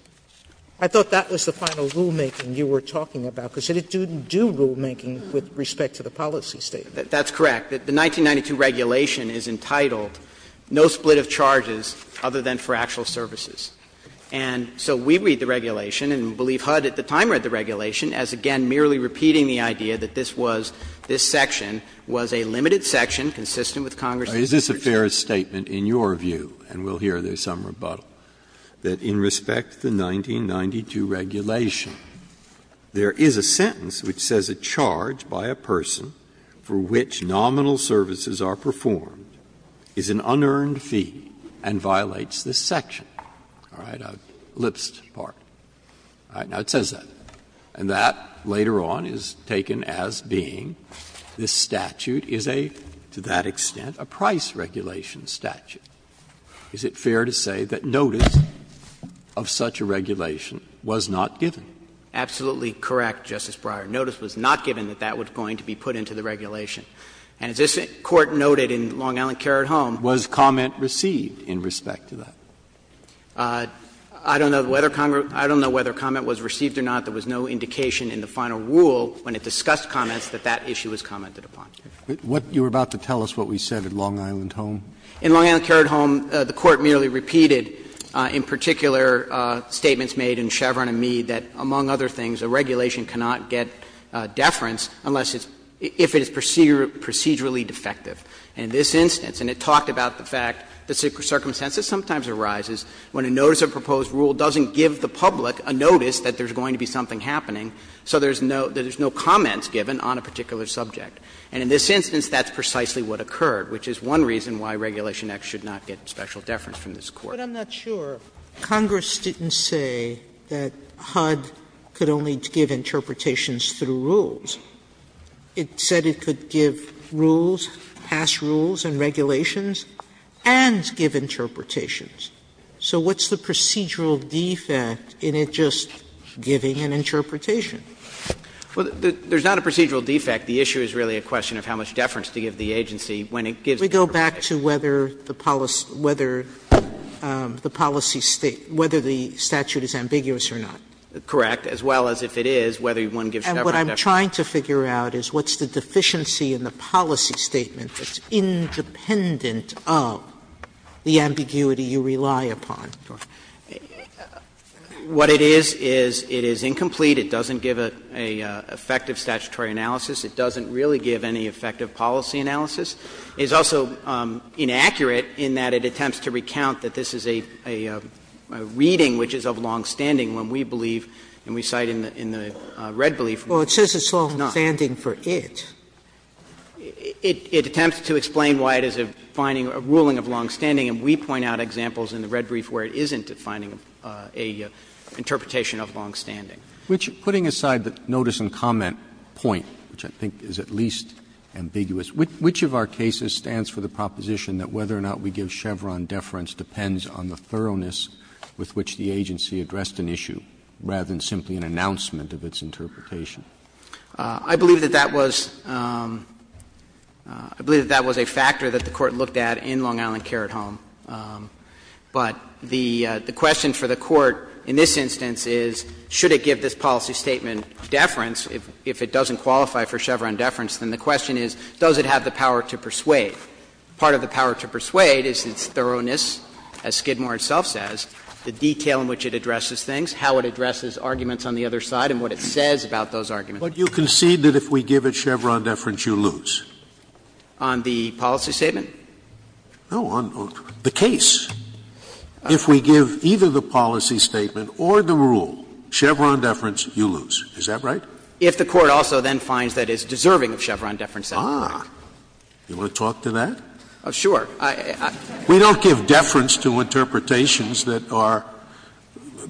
I thought that was the final rulemaking you were talking about, because it didn't do rulemaking with respect to the policy statement. That's correct. The 1992 regulation is entitled, no split of charges other than for actual services. And so we read the regulation, and we believe HUD at the time read the regulation as, again, merely repeating the idea that this was, this section was a limited section consistent with Congress's interpretation. It's a fair statement in your view, and we'll hear there's some rebuttal, that in respect to the 1992 regulation, there is a sentence which says a charge by a person for which nominal services are performed is an unearned fee and violates this section. All right? I've elipsed part. All right. Now, it says that. And that later on is taken as being this statute is a, to that extent, a price regulation statute. Is it fair to say that notice of such a regulation was not given? Absolutely correct, Justice Breyer. Notice was not given that that was going to be put into the regulation. And as this Court noted in Long Island Care at Home. Was comment received in respect to that? I don't know whether comment was received or not. There was no indication in the final rule when it discussed comments that that issue was commented upon. What you were about to tell us, what we said at Long Island Home. In Long Island Care at Home, the Court merely repeated in particular statements made in Chevron and Mead that, among other things, a regulation cannot get deference unless it's – if it is procedurally defective. And in this instance, and it talked about the fact that the circumstances sometimes arises when a notice of proposed rule doesn't give the public a notice that there's going to be something happening, so there's no comments given on a particular subject. And in this instance, that's precisely what occurred, which is one reason why Regulation X should not get special deference from this Court. Sotomayor, but I'm not sure. Congress didn't say that HUD could only give interpretations through rules. It said it could give rules, pass rules and regulations, and give interpretations. So what's the procedural defect in it just giving an interpretation? Well, there's not a procedural defect. The issue is really a question of how much deference to give the agency when it gives Sotomayor, we go back to whether the policy – whether the policy state – whether the statute is ambiguous or not. Correct. As well as if it is, whether one gives Chevron deference. And what I'm trying to figure out is what's the deficiency in the policy statement that's independent of the ambiguity you rely upon? What it is is it is incomplete. It doesn't give an effective statutory analysis. It doesn't really give any effective policy analysis. It's also inaccurate in that it attempts to recount that this is a reading which is of longstanding when we believe, and we cite in the red brief, it's not. Well, it says it's longstanding for it. It attempts to explain why it is a finding, a ruling of longstanding, and we point out examples in the red brief where it isn't a finding, a interpretation of longstanding. Roberts Putting aside the notice and comment point, which I think is at least ambiguous, which of our cases stands for the proposition that whether or not we give Chevron deference depends on the thoroughness with which the agency addressed an issue, rather than simply an announcement of its interpretation? I believe that that was – I believe that that was a factor that the Court looked at in Long Island Care at Home. But the question for the Court in this instance is, should it give this policy statement deference if it doesn't qualify for Chevron deference, then the question is, does it have the power to persuade? Part of the power to persuade is its thoroughness, as Skidmore itself says, the detail in which it addresses things, how it addresses arguments on the other side, and what it says about those arguments. Scalia But you concede that if we give it Chevron deference, you lose? Roberts On the policy statement? Scalia No, on the case. If we give either the policy statement or the rule Chevron deference, you lose. Is that right? Roberts If the Court also then finds that it's deserving of Chevron deference, that's correct. Scalia Ah. You want to talk to that? Roberts Sure. Scalia We don't give deference to interpretations that are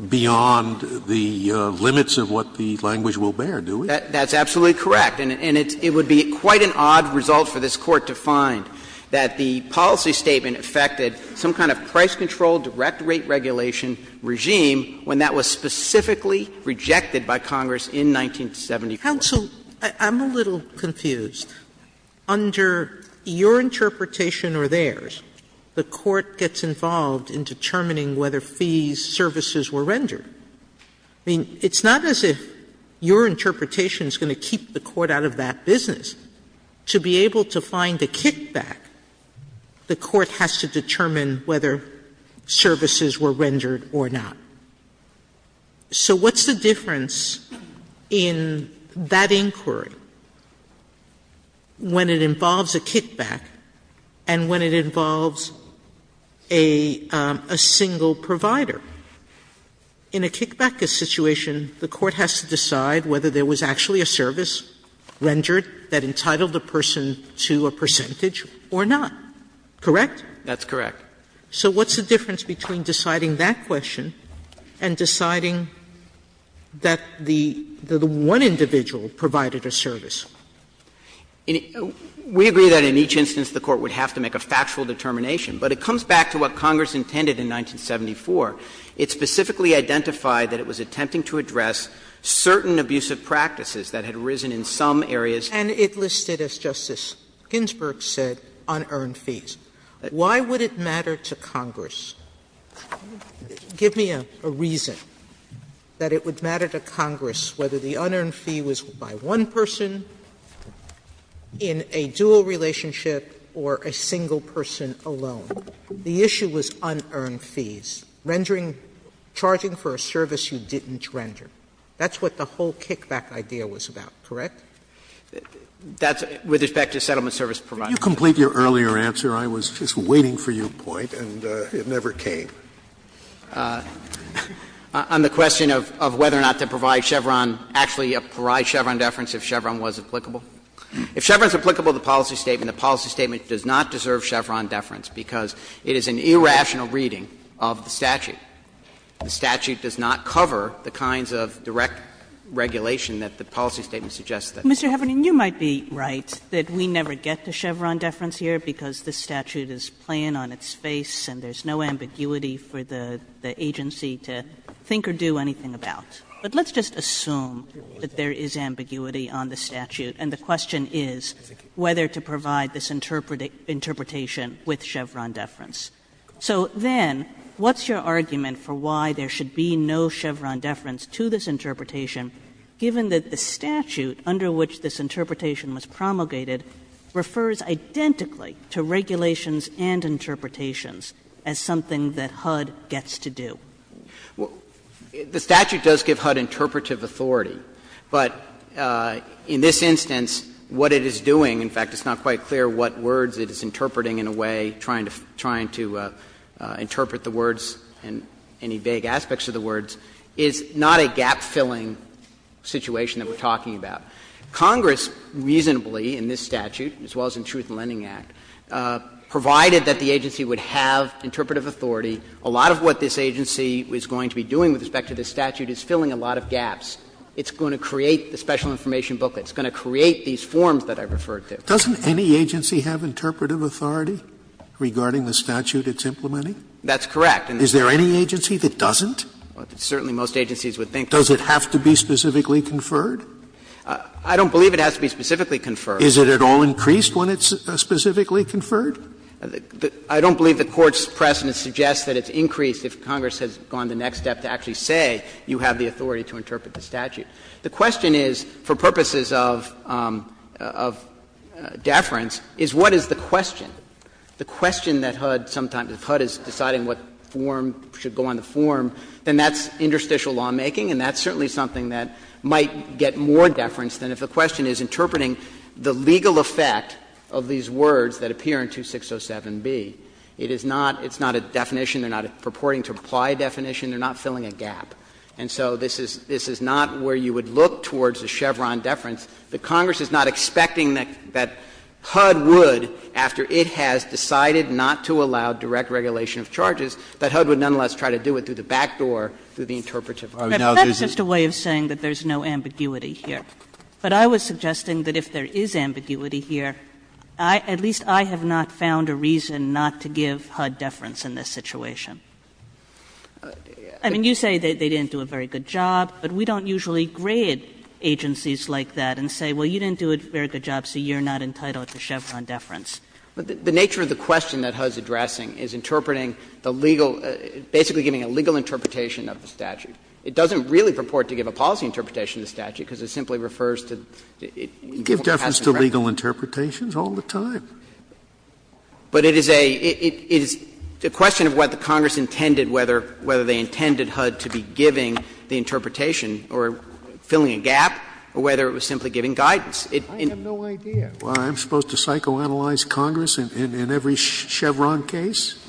beyond the limits of what the language will bear, do we? Roberts That's absolutely correct. And it would be quite an odd result for this Court to find that the policy statement affected some kind of price control, direct rate regulation regime when that was specifically rejected by Congress in 1974. Sotomayor Counsel, I'm a little confused. Under your interpretation or theirs, the Court gets involved in determining whether fees, services were rendered. I mean, it's not as if your interpretation is going to keep the Court out of that business. To be able to find a kickback, the Court has to determine whether services were rendered or not. So what's the difference in that inquiry when it involves a kickback and when it involves a single provider? In a kickback situation, the Court has to decide whether there was actually a service rendered that entitled the person to a percentage or not. Correct? Roberts That's correct. Sotomayor So what's the difference between deciding that question and deciding that the one individual provided a service? Roberts We agree that in each instance the Court would have to make a factual determination. But it comes back to what Congress intended in 1974. It specifically identified that it was attempting to address certain abusive practices that had arisen in some areas. Sotomayor And it listed, as Justice Ginsburg said, unearned fees. Why would it matter to Congress? Give me a reason that it would matter to Congress whether the unearned fee was by one person in a dual relationship or a single person alone. The issue was unearned fees, rendering, charging for a service you didn't render. That's what the whole kickback idea was about, correct? Roberts That's with respect to settlement service providers. Scalia Can you complete your earlier answer? I was just waiting for your point and it never came. Roberts On the question of whether or not to provide Chevron, actually provide Chevron deference if Chevron was applicable. If Chevron is applicable to the policy statement, the policy statement does not deserve Chevron deference, because it is an irrational reading of the statute. The statute does not cover the kinds of direct regulation that the policy statement suggests that it does. Kagan Mr. Heffernan, you might be right that we never get to Chevron deference here, because this statute is plain on its face and there's no ambiguity for the agency to think or do anything about. But let's just assume that there is ambiguity on the statute, and the question is whether to provide this interpretation with Chevron deference. So then, what's your argument for why there should be no Chevron deference to this interpretation, given that the statute under which this interpretation was promulgated refers identically to regulations and interpretations as something that HUD gets to do? The statute does give HUD interpretive authority, but in this instance, what it is doing — in fact, it's not quite clear what words it is interpreting in a way, trying to interpret the words and any vague aspects of the words — is not a gap-filling situation that we're talking about. Congress reasonably, in this statute, as well as in Truth in Lending Act, provided that the agency would have interpretive authority. A lot of what this agency is going to be doing with respect to this statute is filling a lot of gaps. It's going to create the special information booklet. It's going to create these forms that I referred to. Sotomayor Doesn't any agency have interpretive authority regarding the statute it's implementing? That's correct. Is there any agency that doesn't? Certainly, most agencies would think that. Does it have to be specifically conferred? I don't believe it has to be specifically conferred. Is it at all increased when it's specifically conferred? I don't believe the Court's precedent suggests that it's increased if Congress has gone the next step to actually say you have the authority to interpret the statute. The question is, for purposes of deference, is what is the question? The question that HUD sometimes — if HUD is deciding what form should go on the form, then that's interstitial lawmaking, and that's certainly something that might get more deference than if the question is interpreting the legal effect of these words that appear in 2607b. It is not — it's not a definition. They're not purporting to apply a definition. They're not filling a gap. And so this is — this is not where you would look towards a Chevron deference. The Congress is not expecting that HUD would, after it has decided not to allow direct regulation of charges, that HUD would nonetheless try to do it through the back door, through the interpretive authority. Kagan. But that is just a way of saying that there's no ambiguity here. But I was suggesting that if there is ambiguity here, I — at least I have not found a reason not to give HUD deference in this situation. I mean, you say they didn't do a very good job, but we don't usually grade agencies like that and say, well, you didn't do a very good job, so you're not entitled to Chevron deference. The nature of the question that HUD is addressing is interpreting the legal — basically giving a legal interpretation of the statute. It doesn't really purport to give a policy interpretation of the statute, because it simply refers to — it won't pass in the record. Scalia. It gives deference to legal interpretations all the time. But it is a — it is a question of what the Congress intended, whether — whether they intended HUD to be giving the interpretation or filling a gap, or whether it was simply giving guidance. I have no idea why I'm supposed to psychoanalyze Congress in every Chevron case.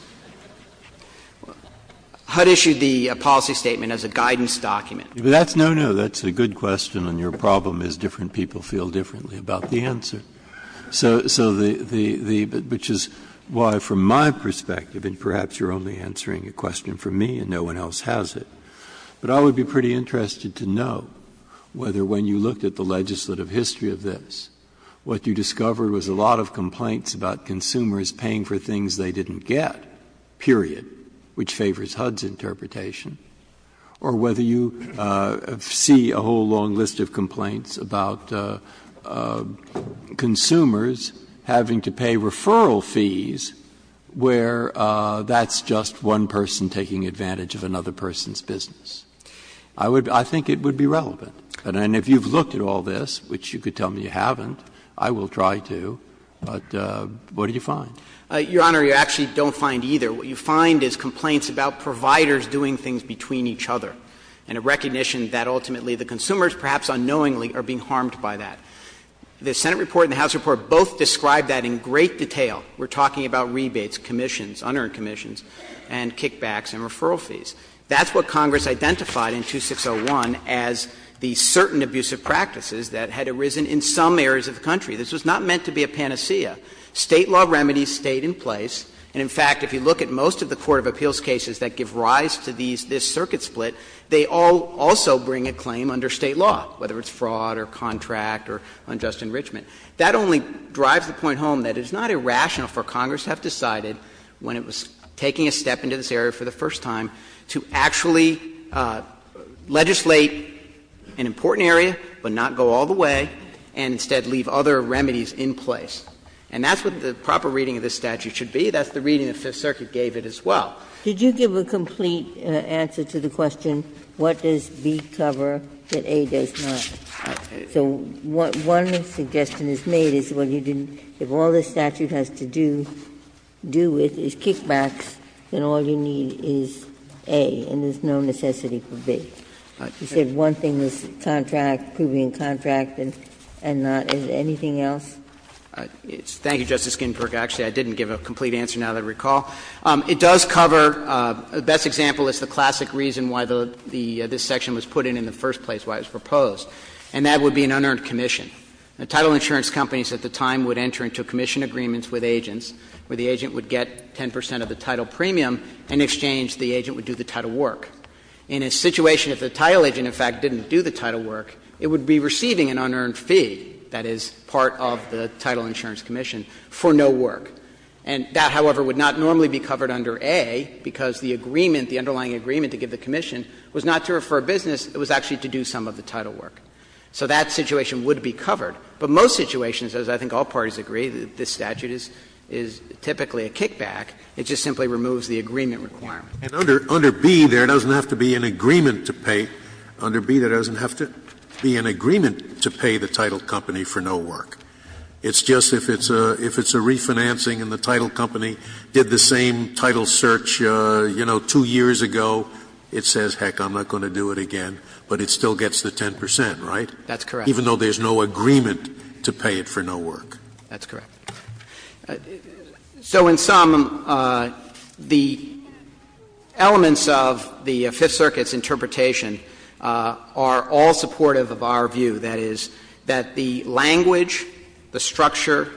How to issue the policy statement as a guidance document. Breyer. But that's no, no. That's a good question, and your problem is different people feel differently about the answer. So the — which is why, from my perspective, and perhaps you're only answering a question for me and no one else has it, but I would be pretty interested to know whether, when you looked at the legislative history of this, what you discovered was a lot of complaints about consumers paying for things they didn't get, period, which favors HUD's interpretation, or whether you see a whole long list of complaints about consumers having to pay referral fees where that's just one person taking advantage of another person's business. And if you've looked at all this, which you could tell me you haven't, I will try to, but what did you find? Your Honor, you actually don't find either. What you find is complaints about providers doing things between each other, and a recognition that ultimately the consumers, perhaps unknowingly, are being harmed by that. The Senate report and the House report both describe that in great detail. We're talking about rebates, commissions, unearned commissions, and kickbacks and referral fees. That's what Congress identified in 2601 as the certain abusive practices that had arisen in some areas of the country. This was not meant to be a panacea. State law remedies stayed in place. And, in fact, if you look at most of the court of appeals cases that give rise to these this circuit split, they all also bring a claim under State law, whether it's fraud or contract or unjust enrichment. That only drives the point home that it's not irrational for Congress to have decided when it was taking a step into this area for the first time to actually legislate an important area, but not go all the way, and instead leave other remedies in place. And that's what the proper reading of this statute should be. That's the reading the Fifth Circuit gave it as well. Ginsburg. Did you give a complete answer to the question, what does B cover that A does not? So what one suggestion is made is when you didn't do all this statute has to do, do with, is kickbacks, then all you need is A, and there's no necessity for B. You said one thing was contract, proving contract, and not anything else? Thank you, Justice Ginsburg. Actually, I didn't give a complete answer, now that I recall. It does cover the best example is the classic reason why the this section was put in in the first place, why it was proposed, and that would be an unearned commission. Title insurance companies at the time would enter into commission agreements with agents, where the agent would get 10 percent of the title premium, and in exchange the agent would do the title work. In a situation if the title agent, in fact, didn't do the title work, it would be receiving an unearned fee, that is, part of the title insurance commission, for no work. And that, however, would not normally be covered under A, because the agreement, the underlying agreement to give the commission was not to refer business, it was actually to do some of the title work. So that situation would be covered. But most situations, as I think all parties agree, this statute is typically a kickback. It just simply removes the agreement requirement. Scalia. And under B, there doesn't have to be an agreement to pay. Under B, there doesn't have to be an agreement to pay the title company for no work. It's just if it's a refinancing and the title company did the same title search, you know, two years ago, it says, heck, I'm not going to do it again, but it still gets the 10 percent, right? That's correct. Even though there's no agreement to pay it for no work. That's correct. So in sum, the elements of the Fifth Circuit's interpretation are all supportive of our view, that is, that the language, the structure,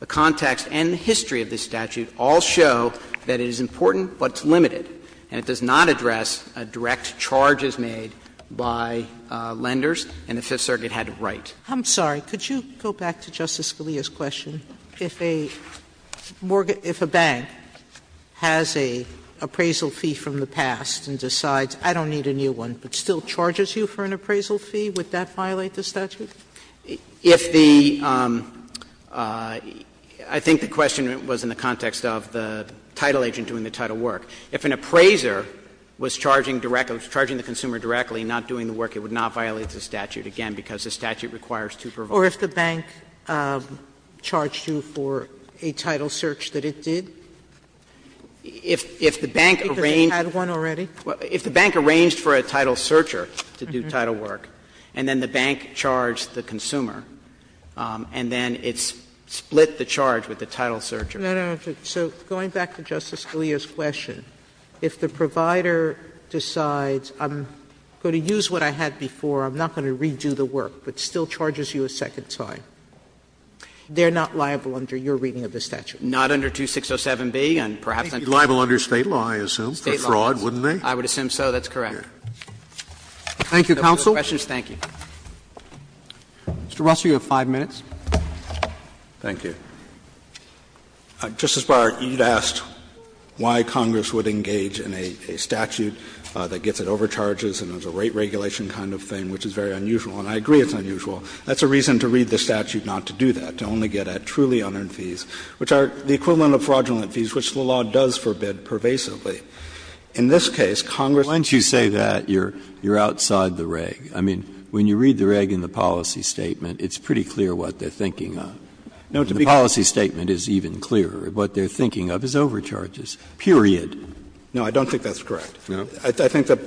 the context and the history of this statute all show that it is important but it's limited, and it does not address a direct charge as made by lenders, and the Fifth Circuit had it right. Sotomayor, I'm sorry. Could you go back to Justice Scalia's question? If a mortgage — if a bank has an appraisal fee from the past and decides, I don't need a new one, but still charges you for an appraisal fee, would that violate the statute? If the — I think the question was in the context of the title agent doing the title work. If an appraiser was charging the consumer directly, not doing the work, it would not violate the statute, again, because the statute requires two provocations. Or if the bank charged you for a title search that it did? If the bank arranged for a title searcher to do title work, and then the bank charged the consumer, and then it split the charge with the title searcher. Sotomayor, so going back to Justice Scalia's question, if the provider decides, I'm going to use what I had before, I'm not going to redo the work, but still charges you a second time, they're not liable under your reading of the statute? Not under 2607b, and perhaps under State law, I assume, for fraud, wouldn't they? I would assume so. That's correct. Thank you, counsel. If no further questions, thank you. Mr. Russell, you have 5 minutes. Thank you. Justice Breyer, you had asked why Congress would engage in a statute that gets at overcharges and is a rate regulation kind of thing, which is very unusual, and I agree it's unusual. That's a reason to read the statute not to do that, to only get at truly unearned fees, which are the equivalent of fraudulent fees, which the law does forbid pervasively. In this case, Congress doesn't. Once you say that, you're outside the reg. I mean, when you read the reg in the policy statement, it's pretty clear what they're thinking of. The policy statement is even clearer. What they're thinking of is overcharges, period. No, I don't think that's correct. I think that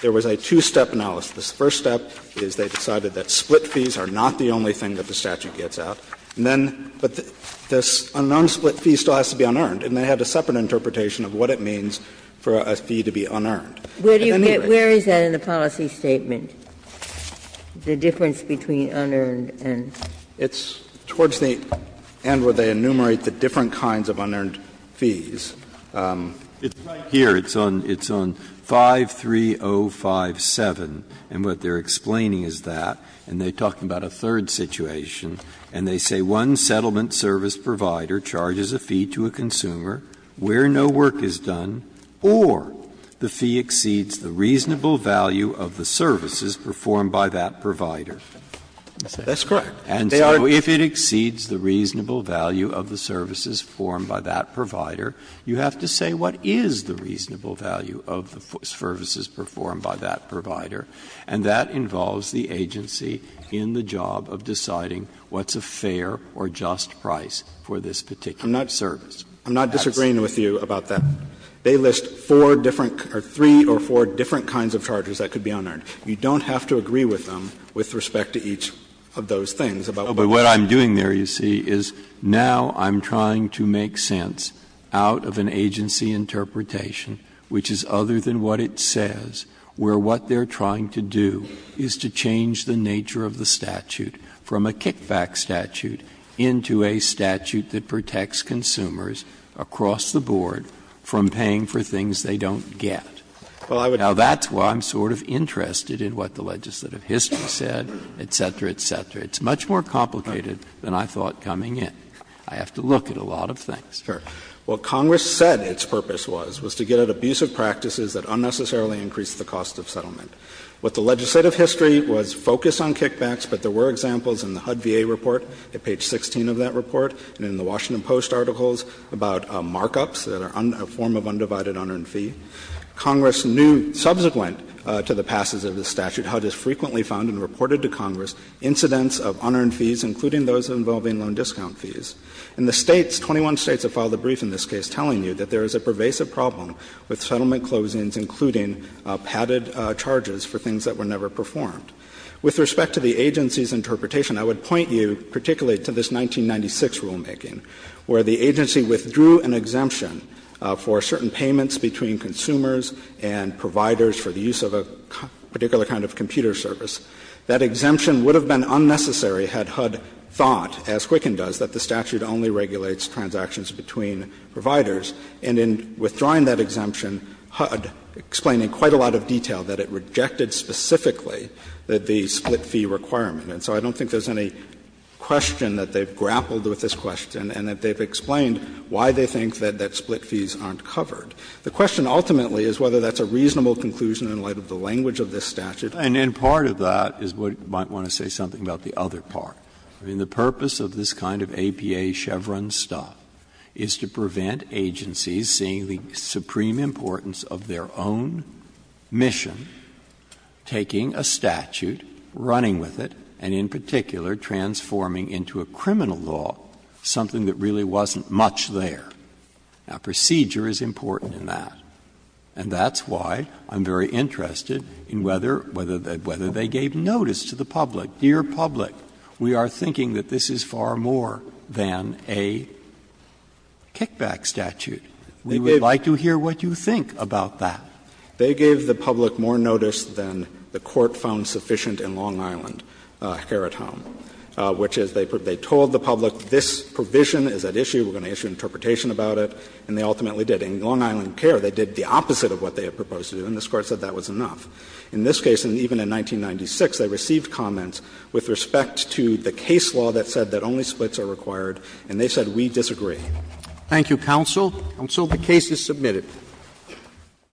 there was a two-step analysis. The first step is they decided that split fees are not the only thing that the statute gets out. And then, but the unknown split fee still has to be unearned, and they had a separate interpretation of what it means for a fee to be unearned. Where do you get that in the policy statement, the difference between unearned and? It's towards the end where they enumerate the different kinds of unearned fees. Breyer, it's on 53057, and what they're explaining is that, and they talk about a third situation, and they say one settlement service provider charges a fee to a consumer where no work is done or the fee exceeds the reasonable value of the services performed by that provider. That's correct. And so if it exceeds the reasonable value of the services formed by that provider, you have to say what is the reasonable value of the services performed by that provider. And that involves the agency in the job of deciding what's a fair or just price for this particular service. I'm not disagreeing with you about that. They list four different or three or four different kinds of charges that could be unearned. You don't have to agree with them with respect to each of those things. But what I'm doing there, you see, is now I'm trying to make sense out of an agency interpretation which is other than what it says, where what they're trying to do is to change the nature of the statute from a kickback statute into a statute that protects consumers across the board from paying for things they don't get. Now, that's why I'm sort of interested in what the legislative history said, et cetera, et cetera. It's much more complicated than I thought coming in. I have to look at a lot of things. What Congress said its purpose was, was to get at abusive practices that unnecessarily increase the cost of settlement. What the legislative history was focused on kickbacks, but there were examples in the HUD VA report, at page 16 of that report, and in the Washington Post articles about markups that are a form of undivided unearned fee. Congress knew, subsequent to the passage of the statute, HUD has frequently found and reported to Congress incidents of unearned fees, including those involving loan discount fees. And the States, 21 States, have filed a brief in this case telling you that there is a pervasive problem with settlement closings, including padded charges for things that were never performed. With respect to the agency's interpretation, I would point you particularly to this 1996 rulemaking, where the agency withdrew an exemption for certain payments between consumers and providers for the use of a particular kind of computer service. That exemption would have been unnecessary had HUD thought, as Quicken does, that the statute only regulates transactions between providers. And in withdrawing that exemption, HUD explained in quite a lot of detail that it rejected specifically the split fee requirement. So I don't think there's any question that they've grappled with this question and that they've explained why they think that split fees aren't covered. The question ultimately is whether that's a reasonable conclusion in light of the language of this statute. Breyer, and in part of that is what you might want to say something about the other part. I mean, the purpose of this kind of APA Chevron stuff is to prevent agencies seeing the supreme importance of their own mission, taking a statute, running with it, and in particular transforming into a criminal law, something that really wasn't much there. Now, procedure is important in that. And that's why I'm very interested in whether they gave notice to the public. Dear public, we are thinking that this is far more than a kickback statute. We would like to hear what you think about that. They gave the public more notice than the Court found sufficient in Long Island care at home, which is they told the public this provision is at issue, we're going to issue an interpretation about it, and they ultimately did. In Long Island care, they did the opposite of what they had proposed to do, and this Court said that was enough. In this case, and even in 1996, they received comments with respect to the case law that said that only splits are required, and they said, we disagree. Roberts, and so the case is submitted. Thank you.